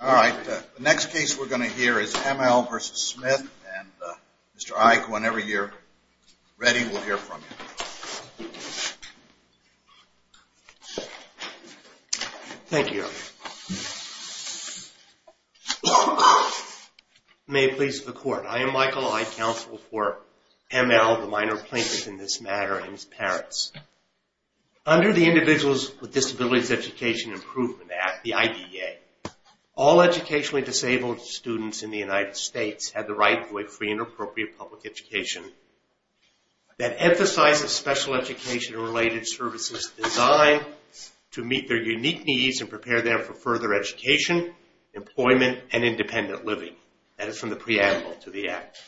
Alright, the next case we're going to hear is M. L. v. Smith and Mr. Ike, whenever you're ready, we'll hear from you. Thank you, Your Honor. May it please the Court, I am Michael Ike, counsel for M. L., the minor plaintiff in this matter, and his parents. Under the Individuals with Disabilities Education Improvement Act, the IDA, all educationally disabled students in the United States have the right to a free and appropriate public education that emphasizes special education-related services designed to meet their unique needs and prepare them for further education, employment, and independent living. That is from the preamble to the act.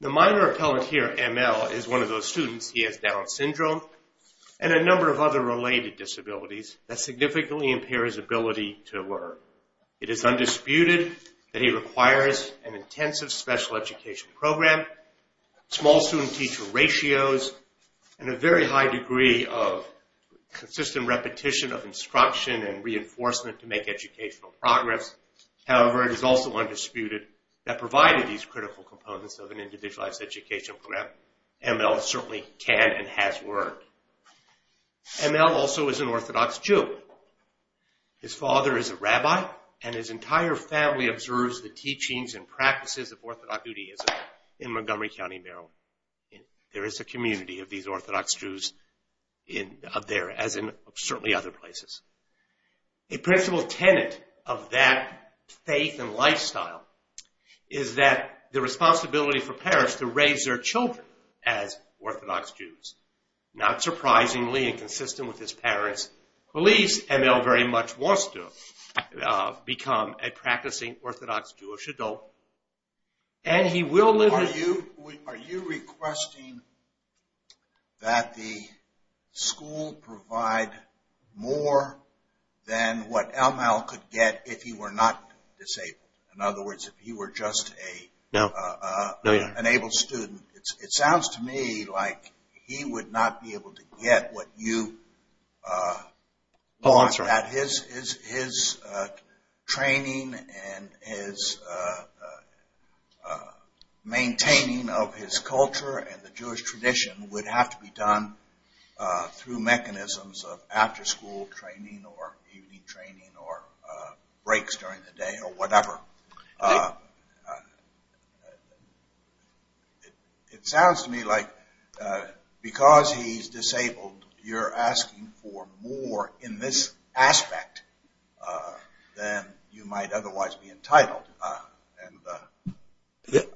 The minor appellant here, M. L., is one of those students. He has Down syndrome and a number of other related disabilities that significantly impair his ability to learn. It is undisputed that he requires an intensive special education program, small student-teacher ratios, and a very high degree of consistent repetition of instruction and reinforcement to make educational progress. However, it is also undisputed that provided these critical components of an Individuals with Disabilities Education Improvement Act, M. L. certainly can and has worked. M. L. also is an Orthodox Jew. His father is a rabbi, and his entire family observes the teachings and practices of Orthodox Judaism in Montgomery County, Maryland. There is a community of these Orthodox Jews there, as in certainly other places. A principal tenet of that faith and lifestyle is that the responsibility for parents to raise their children as Orthodox Jews. Not surprisingly, and consistent with his parents' beliefs, M. L. very much wants to become a practicing Orthodox Jewish adult, and he will live... Are you requesting that the school provide more than what M. L. could get if he were not disabled? In other words, if he were just an able student. It sounds to me like he would not be able to get what you want. His training and his maintaining of his culture and the Jewish tradition would have to be done through mechanisms of after-school training or evening training or breaks during the day or whatever. It sounds to me like because he's disabled, you're asking for more in this aspect than you might otherwise be entitled.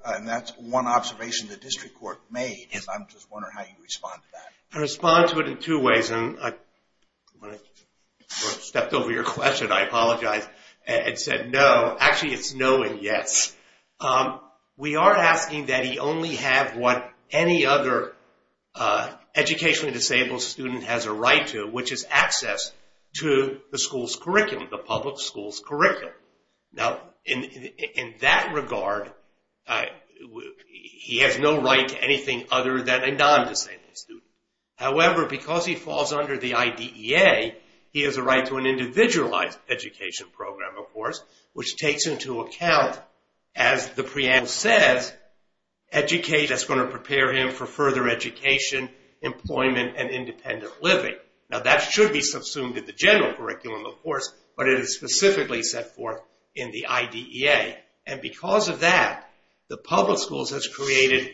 And that's one observation the district court made. I'm just wondering how you respond to that. I respond to it in two ways. When I stepped over your question, I apologized and said no. Actually, it's no and yes. We are asking that he only have what any other educationally disabled student has a right to, which is access to the school's curriculum, the public school's curriculum. Now, in that regard, he has no right to anything other than a non-disabled student. However, because he falls under the IDEA, he has a right to an individualized education program, of course, which takes into account, as the preamble says, education that's going to prepare him for further education, employment, and independent living. Now, that should be subsumed in the general curriculum, of course, but it is specifically set forth in the IDEA. And because of that, the public schools has created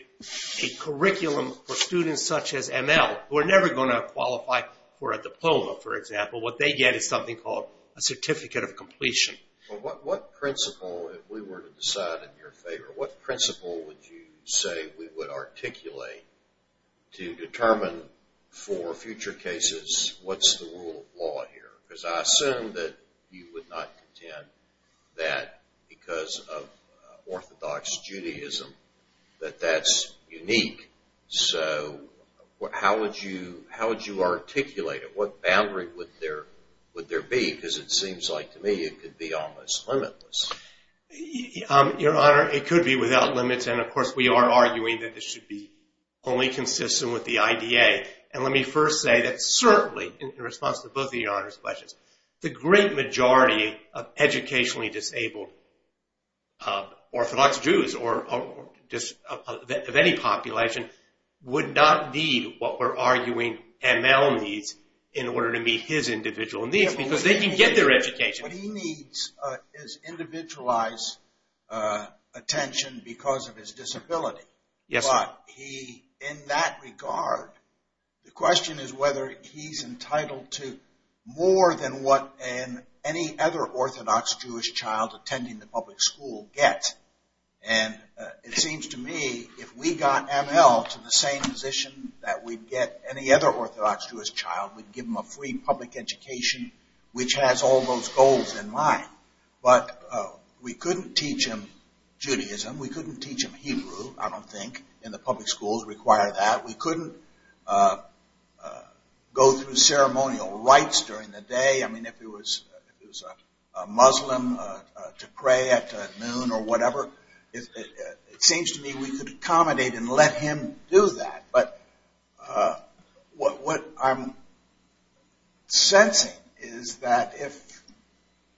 a curriculum for students such as ML, who are never going to qualify for a diploma, for example. What they get is something called a certificate of completion. Well, what principle, if we were to decide in your favor, what principle would you say we would articulate to determine for future cases what's the rule of law here? Because I assume that you would not contend that because of Orthodox Judaism, that that's unique. So how would you articulate it? What boundary would there be? Because it seems like, to me, it could be almost limitless. Your Honor, it could be without limits. And, of course, we are arguing that it should be only consistent with the IDEA. And let me first say that certainly, in response to both of Your Honor's questions, the great majority of educationally disabled Orthodox Jews of any population would not need what we're arguing ML needs in order to meet his individual needs because they can get their education. What he needs is individualized attention because of his disability. But in that regard, the question is whether he's entitled to more than what any other Orthodox Jewish child attending the public school gets. And it seems to me if we got ML to the same position that we'd get any other Orthodox Jewish child, we'd give him a free public education which has all those goals in mind. But we couldn't teach him Judaism. We couldn't teach him Hebrew, I don't think, in the public schools require that. We couldn't go through ceremonial rites during the day. I mean, if it was a Muslim to pray at noon or whatever, it seems to me we could accommodate and let him do that. But what I'm sensing is that if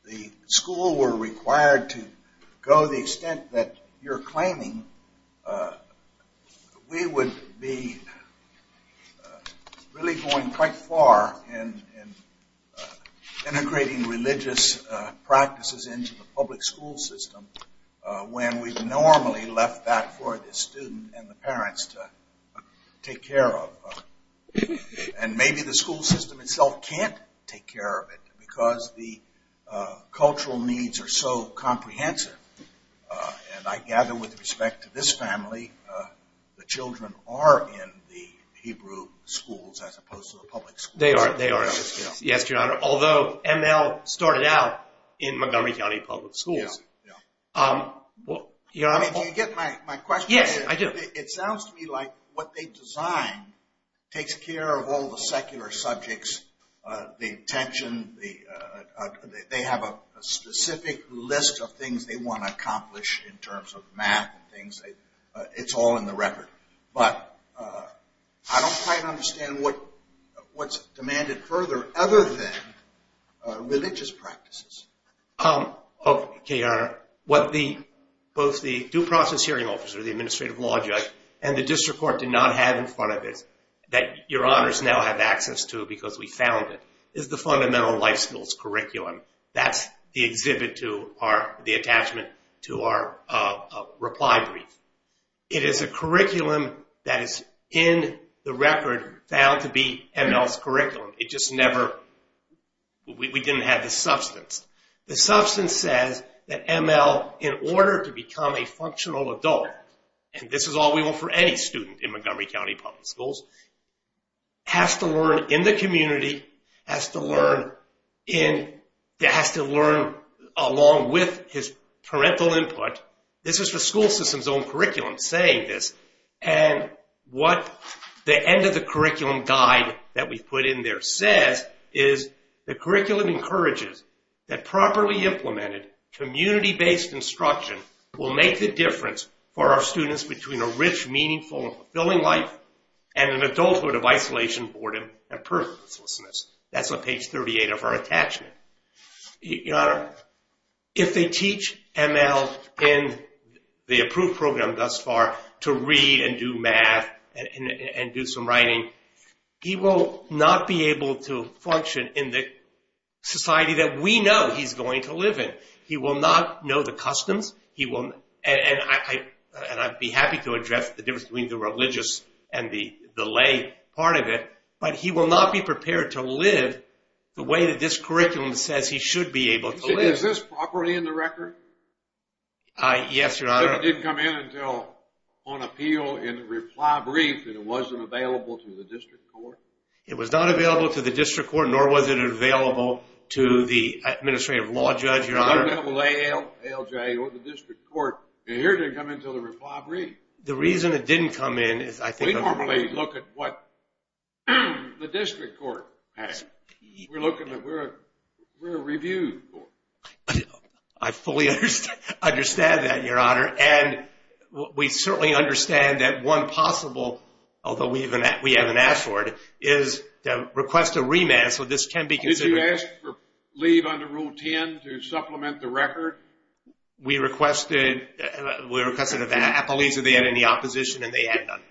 the school were required to go to the extent that you're claiming, we would be, I don't know, we wouldn't be able to do that. I think we're really going quite far in integrating religious practices into the public school system when we've normally left that for the student and the parents to take care of. And maybe the school system itself can't take care of it because the cultural needs are so comprehensive. And I gather with respect to this family, the children are in the Hebrew schools as opposed to the public schools. They are. They are. Yes, Your Honor. Although ML started out in Montgomery County Public Schools. Yeah. Yeah. I mean, do you get my question? Yes, I do. It sounds to me like what they design takes care of all the secular subjects, the attention, they have a specific list of things they want to accomplish in terms of math and things. It's all in the record. But I don't quite understand what's demanded further other than religious practices. Okay, Your Honor. What both the due process hearing officer, the administrative law judge, and the district court did not have in front of it that Your Honors now have access to because we found it, is the fundamental life skills curriculum. That's the exhibit to our, the attachment to our reply brief. It is a curriculum that is in the record found to be ML's curriculum. It just never, we didn't have the substance. The substance says that ML, in order to become a functional adult, and this is all we want for any student in Montgomery County Public Schools, has to learn in the community, has to learn in, has to learn along with his parental input. This is the school system's own curriculum saying this, and what the end of the curriculum guide that we put in there says is the curriculum encourages that properly implemented community-based instruction will make the difference for our students between a rich, meaningful, and fulfilling life and an adulthood of isolation, boredom, and purposelessness. That's on page 38 of our attachment. Your Honor, if they teach ML in the approved program thus far to read and do math and do some writing, he will not be able to function in the society that we know he's going to live in. He will not know the customs, and I'd be happy to address the difference between the religious and the lay part of it, but he will not be prepared to live the way that this curriculum says he should be able to live. Is this properly in the record? Yes, Your Honor. It didn't come in until on appeal in reply brief, and it wasn't available to the district court? It was not available to the district court, nor was it available to the administrative law judge, Your Honor. It was available to ALJ or the district court, and here it didn't come in until the reply brief. The reason it didn't come in is I think... We normally look at what the district court has. We're a review court. I fully understand that, Your Honor, and we certainly understand that one possible, although we haven't asked for it, is to request a remand, so this can be considered... Did you ask for leave under Rule 10 to supplement the record? We requested an appellee, so they had any opposition, and they had none.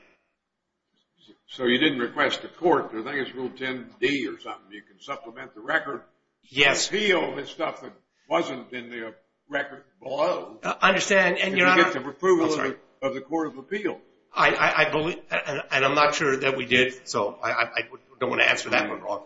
So you didn't request a court. I think it's Rule 10D or something. You can supplement the record. Yes. Appeal is stuff that wasn't in the record below. I understand, and Your Honor... You get the approval of the Court of Appeal. I believe, and I'm not sure that we did, so I don't want to answer that one wrong,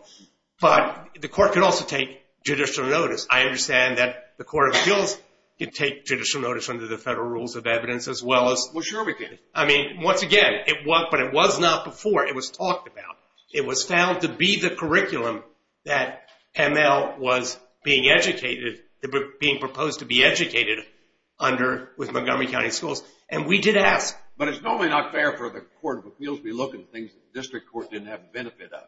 but the court can also take judicial notice. I understand that the Court of Appeals can take judicial notice under the federal rules of evidence as well as... Well, sure we can. I mean, once again, but it was not before. It was talked about. It was found to be the curriculum that ML was being proposed to be educated under with Montgomery County Schools, and we did ask... But it's normally not fair for the Court of Appeals to be looking at things that the district court didn't have the benefit of.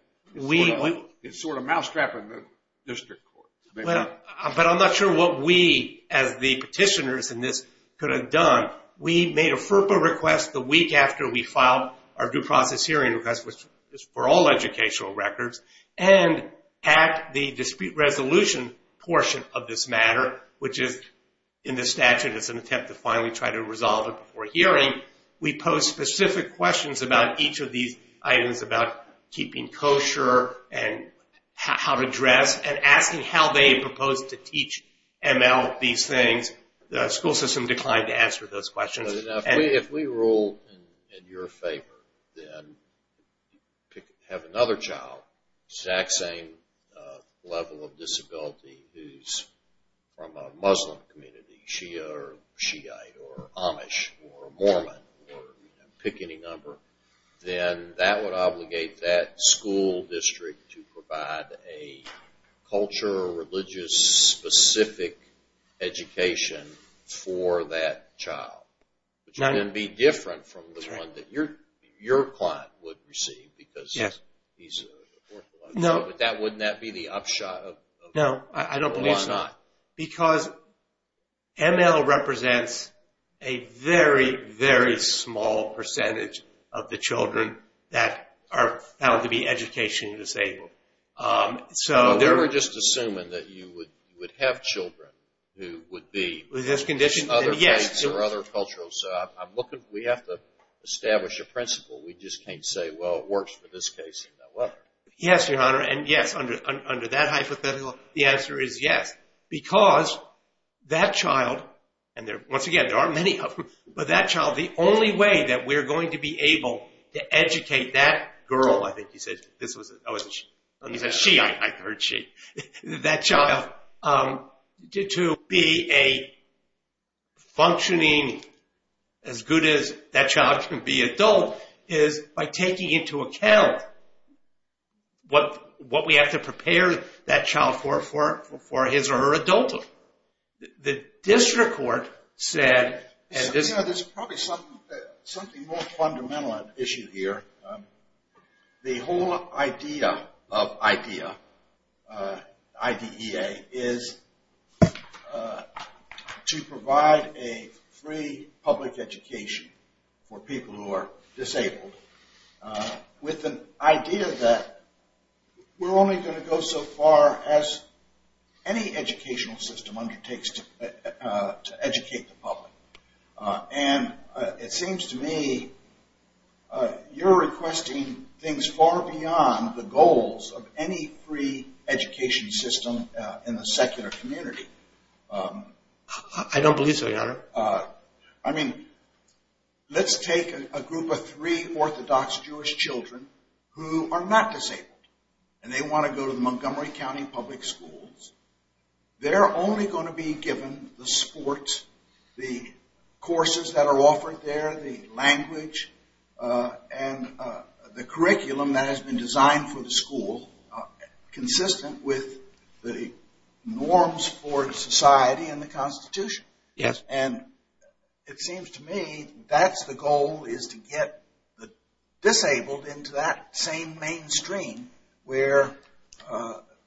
It's sort of mousetrapping the district court. But I'm not sure what we, as the petitioners in this, could have done. We made a FERPA request the week after we filed our due process hearing request, which is for all educational records, and at the dispute resolution portion of this matter, which is in the statute, it's an attempt to finally try to resolve it before hearing, we posed specific questions about each of these items about keeping kosher and how to dress and asking how they proposed to teach ML these things. The school system declined to answer those questions. If we rule in your favor, then have another child, exact same level of disability, who's from a Muslim community, Shia or Shiite or Amish or Mormon, pick any number, then that would obligate that school district to provide a culture, religious-specific education for that child. Which would then be different from the one that your client would receive because he's... No. Wouldn't that be the upshot of... No, I don't believe so. Why not? Because ML represents a very, very small percentage of the children that are found to be educationally disabled. We were just assuming that you would have children who would be... With this condition, yes. ...other faiths or other cultures. We have to establish a principle. We just can't say, well, it works for this case and that one. Yes, Your Honor, and yes, under that hypothetical, the answer is yes. Because that child, and once again, there aren't many of them, but that child, the only way that we're going to be able to educate that girl... I think you said... This was... Oh, it wasn't she. You said she. I heard she. ...that child to be functioning as good as that child can be adult is by taking into account what we have to prepare that child for his or her adulthood. The district court said... Your Honor, there's probably something more fundamental issue here. The whole idea of IDEA, I-D-E-A, is to provide a free public education for people who are disabled, with an idea that we're only going to go so far as any educational system undertakes to educate the public. And it seems to me you're requesting things far beyond the goals of any free education system in the secular community. I don't believe so, Your Honor. I mean, let's take a group of three Orthodox Jewish children who are not disabled, and they want to go to the Montgomery County Public Schools. They're only going to be given the sports, the courses that are offered there, the language, and the curriculum that has been designed for the school consistent with the norms for society and the Constitution. Yes. And it seems to me that's the goal, is to get the disabled into that same mainstream where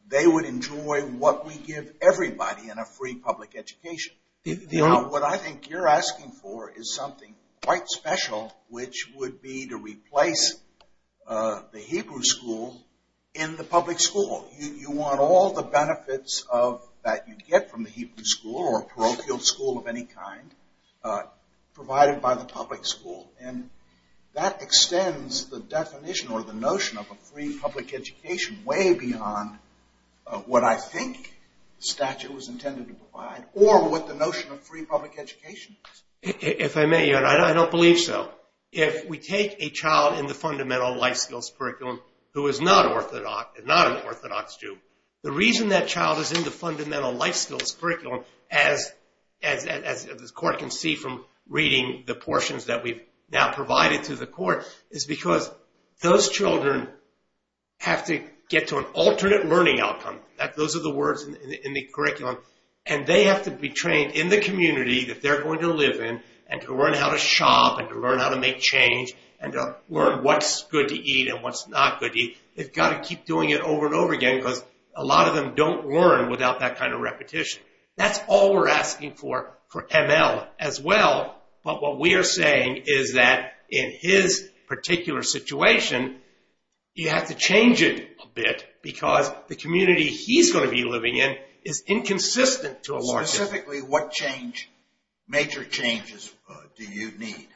they would enjoy what we give everybody in a free public education. Now, what I think you're asking for is something quite special, which would be to replace the Hebrew school in the public school. You want all the benefits that you get from the Hebrew school or a parochial school of any kind provided by the public school. And that extends the definition or the notion of a free public education way beyond what I think statute was intended to provide or what the notion of free public education is. If I may, Your Honor, I don't believe so. If we take a child in the fundamental life skills curriculum who is not an Orthodox Jew, the reason that child is in the fundamental life skills curriculum, as the court can see from reading the portions that we've now provided to the court, is because those children have to get to an alternate learning outcome. Those are the words in the curriculum. And they have to be trained in the community that they're going to live in and to learn how to shop and to learn how to make change and to learn what's good to eat and what's not good to eat. They've got to keep doing it over and over again because a lot of them don't learn without that kind of repetition. That's all we're asking for for ML as well. But what we are saying is that in his particular situation, you have to change it a bit because the community he's going to be living in is inconsistent to a large extent. Specifically, what change, major changes, do you need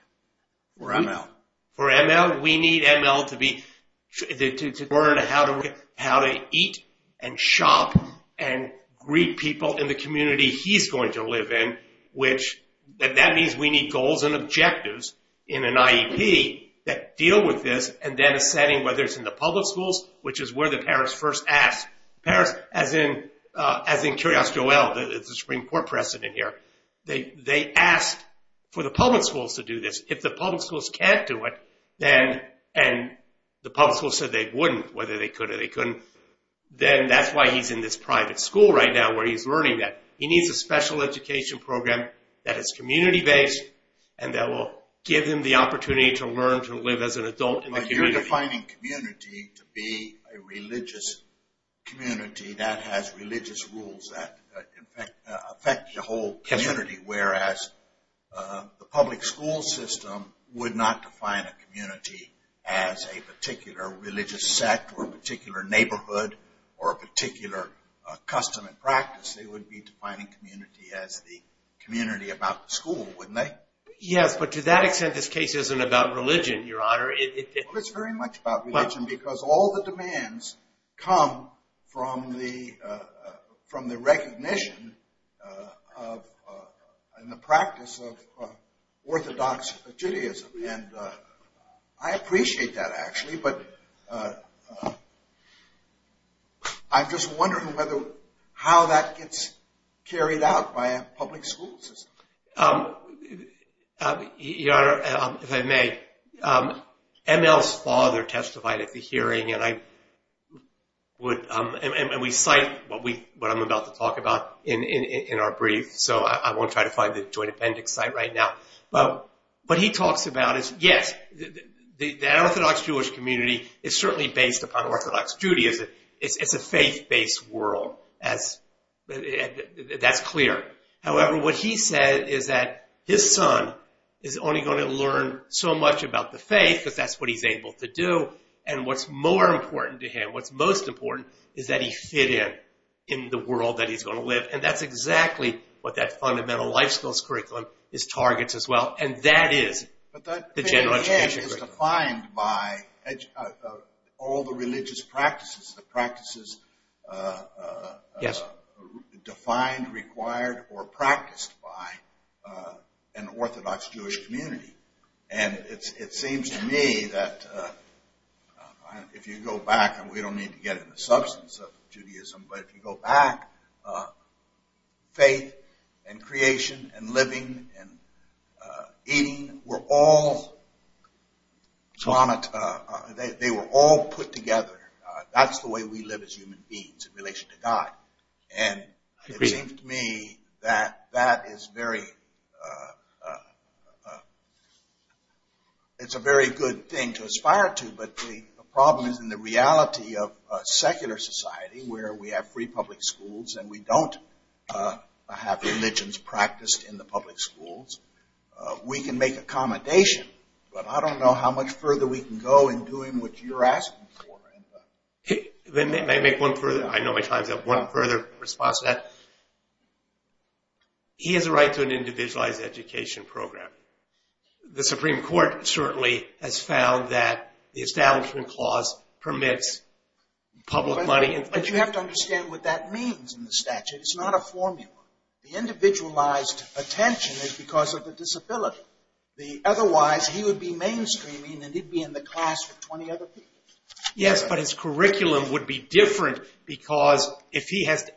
for ML? For ML, we need ML to learn how to eat and shop and greet people in the community he's going to live in, which that means we need goals and objectives in an IEP that deal with this and then a setting, whether it's in the public schools, which is where the parents first ask. Parents, as in Curios Joel, the Supreme Court precedent here, they asked for the public schools to do this. If the public schools can't do it and the public schools said they wouldn't, whether they could or they couldn't, then that's why he's in this private school right now where he's learning that. He needs a special education program that is community-based and that will give him the opportunity to learn to live as an adult in the community. But you're defining community to be a religious community that has religious rules that affect the whole community, whereas the public school system would not define a community as a particular religious sect or a particular neighborhood or a particular custom and practice. They would be defining community as the community about the school, wouldn't they? Yes, but to that extent, this case isn't about religion, Your Honor. It's very much about religion because all the demands come from the recognition and the practice of orthodox Judaism. I appreciate that, actually, but I'm just wondering how that gets carried out by a public school system. Your Honor, if I may, ML's father testified at the hearing and we cite what I'm about to talk about in our brief, so I won't try to find the joint appendix site right now. But what he talks about is, yes, the orthodox Jewish community is certainly based upon orthodox Judaism. It's a faith-based world. That's clear. However, what he said is that his son is only going to learn so much about the faith because that's what he's able to do. And what's more important to him, what's most important, is that he fit in in the world that he's going to live. And that's exactly what that fundamental life skills curriculum targets as well, and that is the general education curriculum. But that faith, again, is defined by all the religious practices, the practices defined, required, or practiced by an orthodox Jewish community. And it seems to me that if you go back, and we don't need to get into the substance of Judaism, but if you go back, faith and creation and living and eating were all put together. That's the way we live as human beings in relation to God. And it seems to me that that is very, it's a very good thing to aspire to, but the problem is in the reality of secular society where we have free public schools and we don't have religions practiced in the public schools. We can make accommodation, but I don't know how much further we can go in doing what you're asking for. Then may I make one further, I know my time's up, one further response to that? He has a right to an individualized education program. The Supreme Court certainly has found that the establishment clause permits public money. But you have to understand what that means in the statute. It's not a formula. The individualized attention is because of the disability. Otherwise, he would be mainstreaming and he'd be in the class with 20 other people. Yes, but his curriculum would be different because if he has to...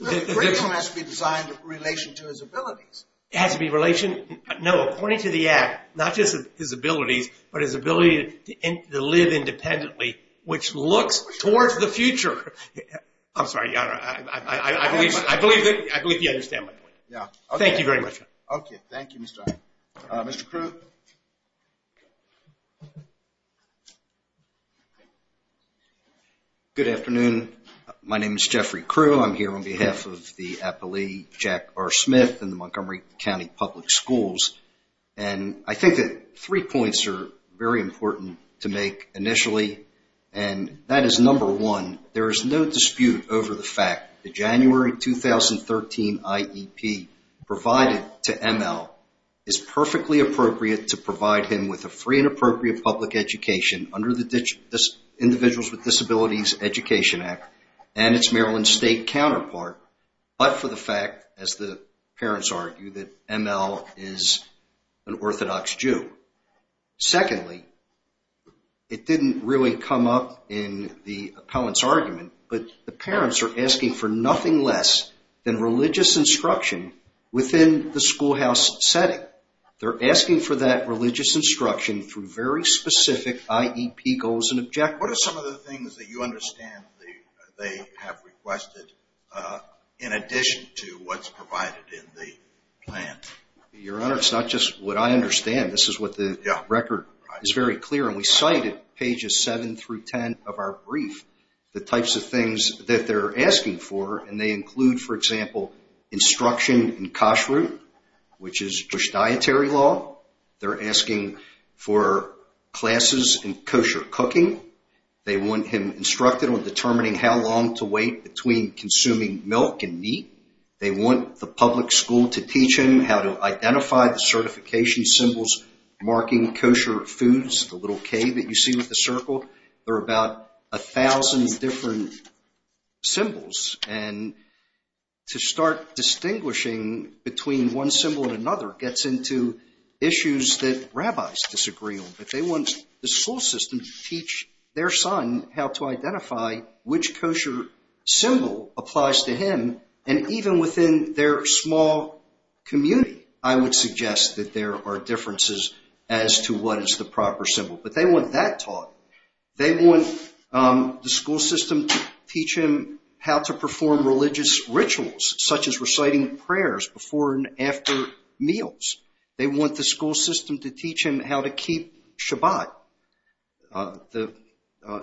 The curriculum has to be designed in relation to his abilities. It has to be in relation, no, according to the act, not just his abilities, but his ability to live independently, which looks towards the future. I'm sorry, Your Honor, I believe you understand my point. Yeah. Thank you very much, Your Honor. Okay, thank you, Mr. Allen. Mr. Crewe? Good afternoon. My name is Jeffrey Crewe. I'm here on behalf of the appellee, Jack R. Smith, in the Montgomery County Public Schools. And I think that three points are very important to make initially, and that is, number one, there is no dispute over the fact that the January 2013 IEP provided to ML is perfectly appropriate to provide him with a free and appropriate public education under the Individuals with Disabilities Education Act and its Maryland State counterpart, but for the fact, as the parents argue, that ML is an Orthodox Jew. Secondly, it didn't really come up in the appellant's argument, but the parents are asking for nothing less than religious instruction within the schoolhouse setting. They're asking for that religious instruction through very specific IEP goals and objectives. What are some of the things that you understand they have requested in addition to what's provided in the plan? Your Honor, it's not just what I understand. This is what the record is very clear, and we cite at pages 7 through 10 of our brief the types of things that they're asking for, and they include, for example, instruction in kashrut, which is Jewish dietary law. They're asking for classes in kosher cooking. They want him instructed on determining how long to wait between consuming milk and meat. They want the public school to teach him how to identify the certification symbols marking kosher foods, the little K that you see with the circle. There are about 1,000 different symbols, and to start distinguishing between one symbol and another gets into issues that rabbis disagree on. They want the school system to teach their son how to identify which kosher symbol applies to him and even within their small community, I would suggest that there are differences as to what is the proper symbol. But they want that taught. They want the school system to teach him how to perform religious rituals, such as reciting prayers before and after meals. They want the school system to teach him how to keep Shabbat, the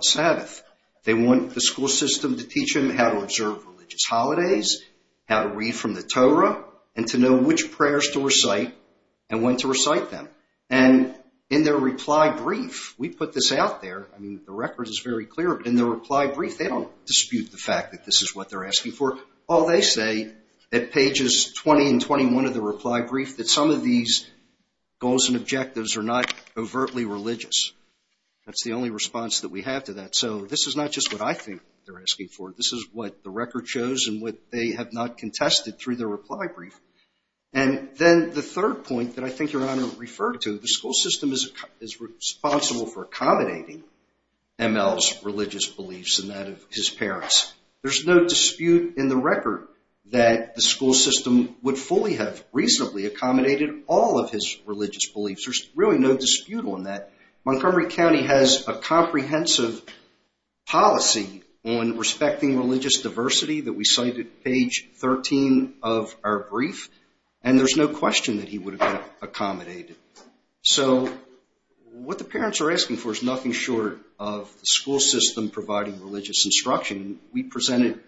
Sabbath. They want the school system to teach him how to observe religious holidays, how to read from the Torah, and to know which prayers to recite and when to recite them. And in their reply brief, we put this out there. I mean, the record is very clear, but in their reply brief, they don't dispute the fact that this is what they're asking for. All they say at pages 20 and 21 of their reply brief is that some of these goals and objectives are not overtly religious. That's the only response that we have to that. So this is not just what I think they're asking for. This is what the record shows and what they have not contested through their reply brief. And then the third point that I think Your Honor referred to, the school system is responsible for accommodating ML's religious beliefs and that of his parents. There's no dispute in the record that the school system would fully have reasonably accommodated all of his religious beliefs. There's really no dispute on that. Montgomery County has a comprehensive policy on respecting religious diversity that we cite at page 13 of our brief, and there's no question that he would have accommodated. So what the parents are asking for is nothing short of the school system providing religious instruction. We presented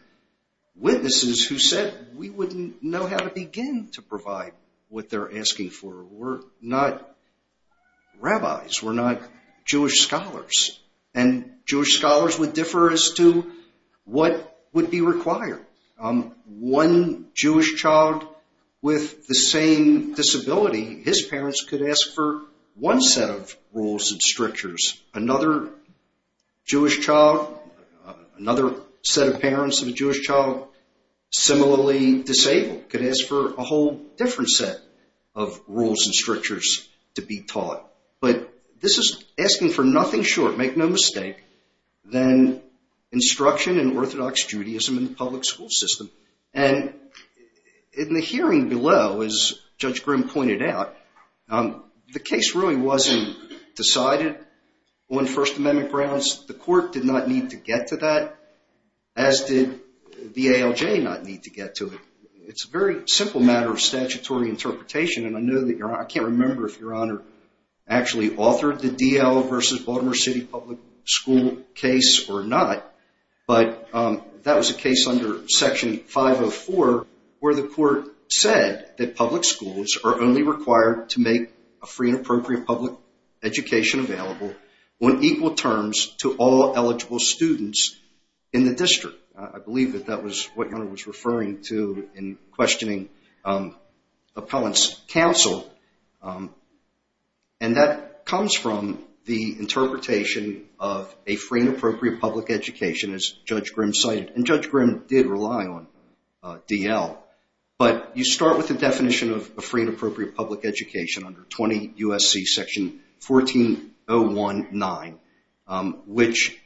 witnesses who said we wouldn't know how to begin to provide what they're asking for. We're not rabbis. We're not Jewish scholars, and Jewish scholars would differ as to what would be required. One Jewish child with the same disability, his parents could ask for one set of rules and strictures. Another Jewish child, another set of parents of a Jewish child similarly disabled could ask for a whole different set of rules and strictures to be taught. But this is asking for nothing short, make no mistake, than instruction in Orthodox Judaism in the public school system. And in the hearing below, as Judge Grimm pointed out, the case really wasn't decided on First Amendment grounds. The court did not need to get to that, as did the ALJ not need to get to it. It's a very simple matter of statutory interpretation, and I can't remember if Your Honor actually authored the DL versus Baltimore City Public School case or not, but that was a case under Section 504 where the court said that public schools are only required to make a free and appropriate public education available on equal terms to all eligible students in the district. I believe that that was what Your Honor was referring to in questioning appellant's counsel, and that comes from the interpretation of a free and appropriate public education, as Judge Grimm cited. And Judge Grimm did rely on DL, but you start with the definition of a free and appropriate public education under 20 U.S.C. Section 14.019, which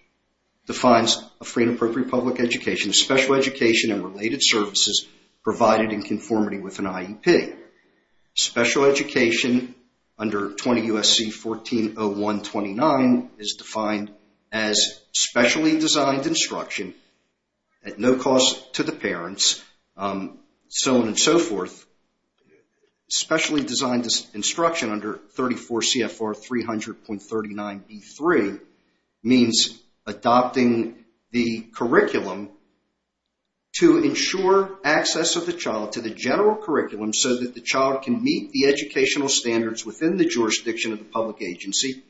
defines a free and appropriate public education as special education and related services provided in conformity with an IEP. Special education under 20 U.S.C. 14.0129 is defined as specially designed instruction at no cost to the parents, so on and so forth. Specially designed instruction under 34 CFR 300.39B3 means adopting the curriculum to ensure access of the child to the general curriculum so that the child can meet the educational standards within the jurisdiction of the public agency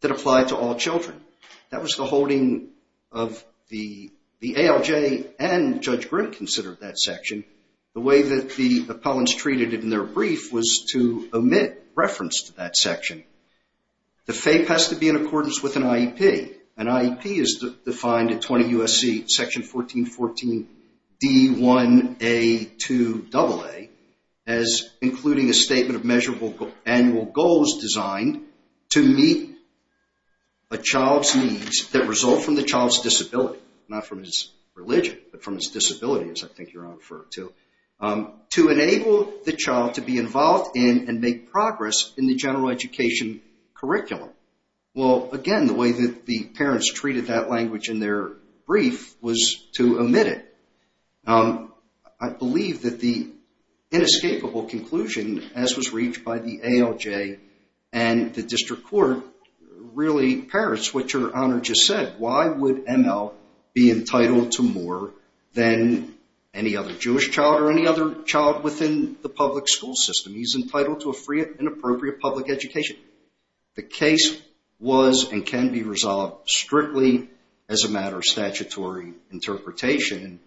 that apply to all children. That was the holding of the ALJ and Judge Grimm considered that section. The way that the appellants treated it in their brief was to omit reference to that section. The FAPE has to be in accordance with an IEP. An IEP is defined in 20 U.S.C. Section 14.14D1A2AA as including a statement of measurable annual goals designed to meet a child's needs that result from the child's disability. Not from his religion, but from his disability, as I think you're referring to. To enable the child to be involved in and make progress in the general education curriculum. Well, again, the way that the parents treated that language in their brief was to omit it. I believe that the inescapable conclusion, as was reached by the ALJ and the District Court, really parrots what your Honor just said. Why would ML be entitled to more than any other Jewish child or any other child within the public school system? He's entitled to a free and appropriate public education. The case was and can be resolved strictly as a matter of statutory interpretation.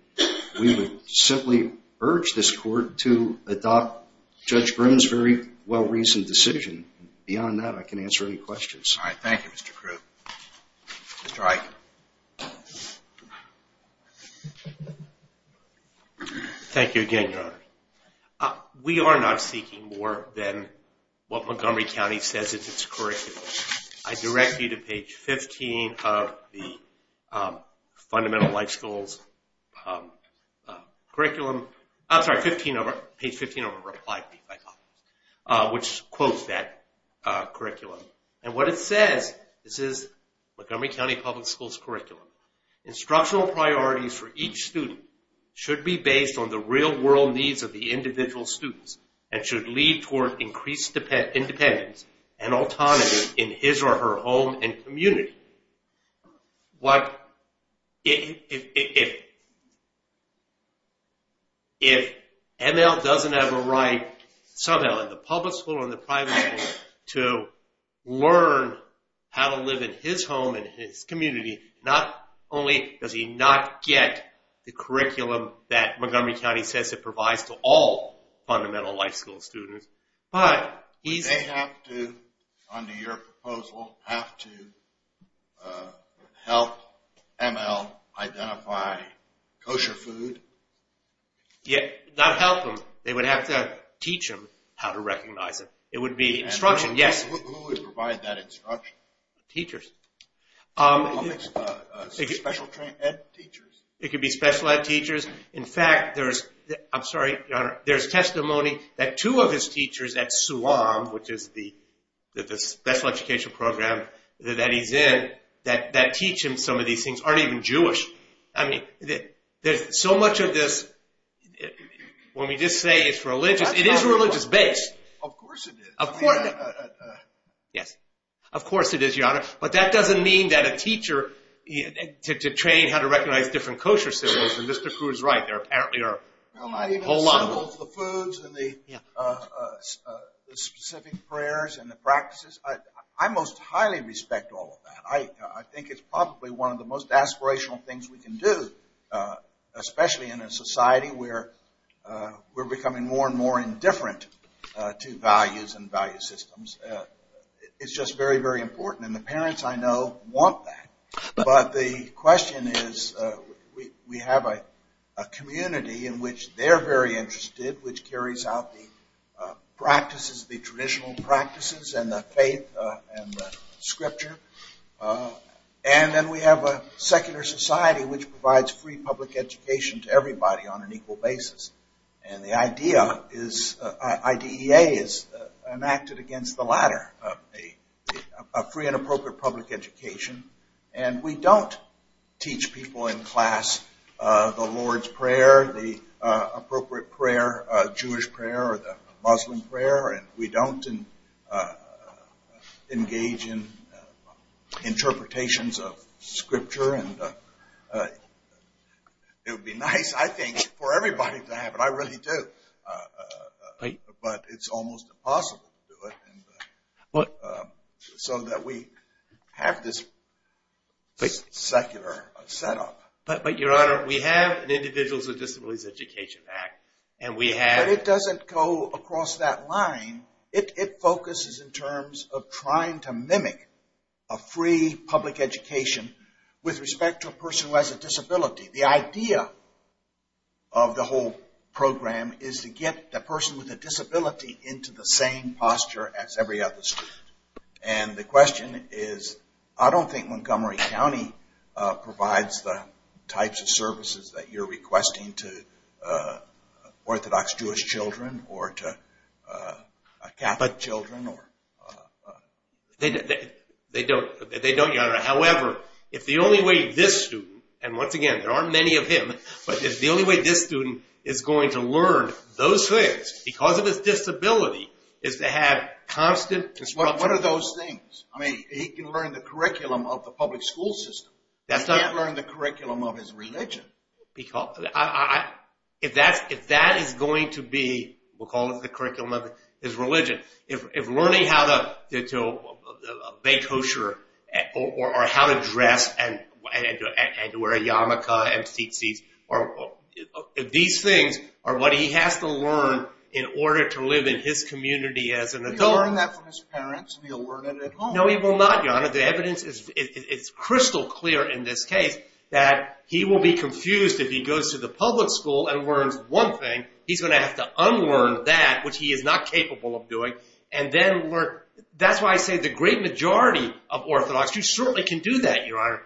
We would simply urge this Court to adopt Judge Grimm's very well-reasoned decision. Beyond that, I can answer any questions. All right. Thank you, Mr. Krug. Mr. Iken. Thank you again, Your Honor. We are not seeking more than what Montgomery County says is its curriculum. I direct you to page 15 of the Fundamental Life Schools curriculum. I'm sorry, page 15 of our reply brief, I thought, which quotes that curriculum. And what it says, this is Montgomery County Public Schools curriculum. Instructional priorities for each student should be based on the real-world needs of the individual students and should lead toward increased independence and autonomy in his or her home and community. If ML doesn't have a right somehow in the public school and the private school to learn how to live in his home and his community, not only does he not get the curriculum that Montgomery County says it provides to all Fundamental Life School students, but he's... Would they have to, under your proposal, have to help ML identify kosher food? Not help him. They would have to teach him how to recognize it. It would be instruction, yes. Who would provide that instruction? Teachers. Special ed teachers. It could be special ed teachers. In fact, there's testimony that two of his teachers at SUAM, which is the special education program that he's in, that teach him some of these things, aren't even Jewish. I mean, there's so much of this, when we just say it's religious, it is religious-based. Of course it is. Yes. Of course it is, Your Honor. But that doesn't mean that a teacher, to train how to recognize different kosher cereals, and Mr. Cruz is right, there apparently are a whole lot of them. The foods and the specific prayers and the practices, I most highly respect all of that. I think it's probably one of the most aspirational things we can do, especially in a society where we're becoming more and more indifferent to values and value systems. It's just very, very important, and the parents, I know, want that. But the question is, we have a community in which they're very interested, which carries out the practices, the traditional practices and the faith and the scripture. And then we have a secular society which provides free public education to everybody on an equal basis. And the idea is, IDEA is enacted against the latter, a free and appropriate public education. And we don't teach people in class the Lord's Prayer, the appropriate prayer, Jewish prayer or the Muslim prayer. And we don't engage in interpretations of scripture. And it would be nice, I think, for everybody to have it. I really do. But it's almost impossible to do it, so that we have this secular setup. But, Your Honor, we have an Individuals with Disabilities Education Act. But it doesn't go across that line. It focuses in terms of trying to mimic a free public education with respect to a person who has a disability. The idea of the whole program is to get the person with a disability into the same posture as every other student. And the question is, I don't think Montgomery County provides the types of services that you're requesting to Orthodox Jewish children or to Catholic children. They don't, Your Honor. However, if the only way this student, and once again, there aren't many of him, but if the only way this student is going to learn those things because of his disability is to have constant... What are those things? I mean, he can learn the curriculum of the public school system. He can't learn the curriculum of his religion. If that is going to be, we'll call it the curriculum of his religion, if learning how to bake kosher or how to dress and to wear a yarmulke and tzitzit, these things are what he has to learn in order to live in his community as an adult. Will he learn that from his parents? Will he learn it at home? No, he will not, Your Honor. The evidence is crystal clear in this case that he will be confused if he goes to the public school and learns one thing. He's going to have to unlearn that, which he is not capable of doing, and then learn... That's why I say the great majority of Orthodox Jews certainly can do that, Your Honor.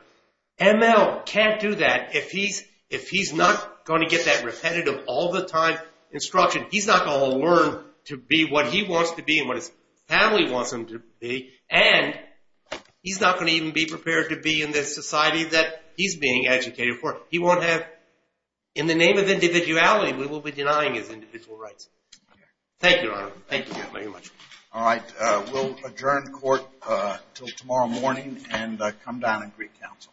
ML can't do that. If he's not going to get that repetitive, all-the-time instruction, he's not going to learn to be what he wants to be and what his family wants him to be. And he's not going to even be prepared to be in the society that he's being educated for. He won't have... In the name of individuality, we will be denying his individual rights. Thank you, Your Honor. Thank you very much. All right. We'll adjourn court until tomorrow morning and come down and greet counsel.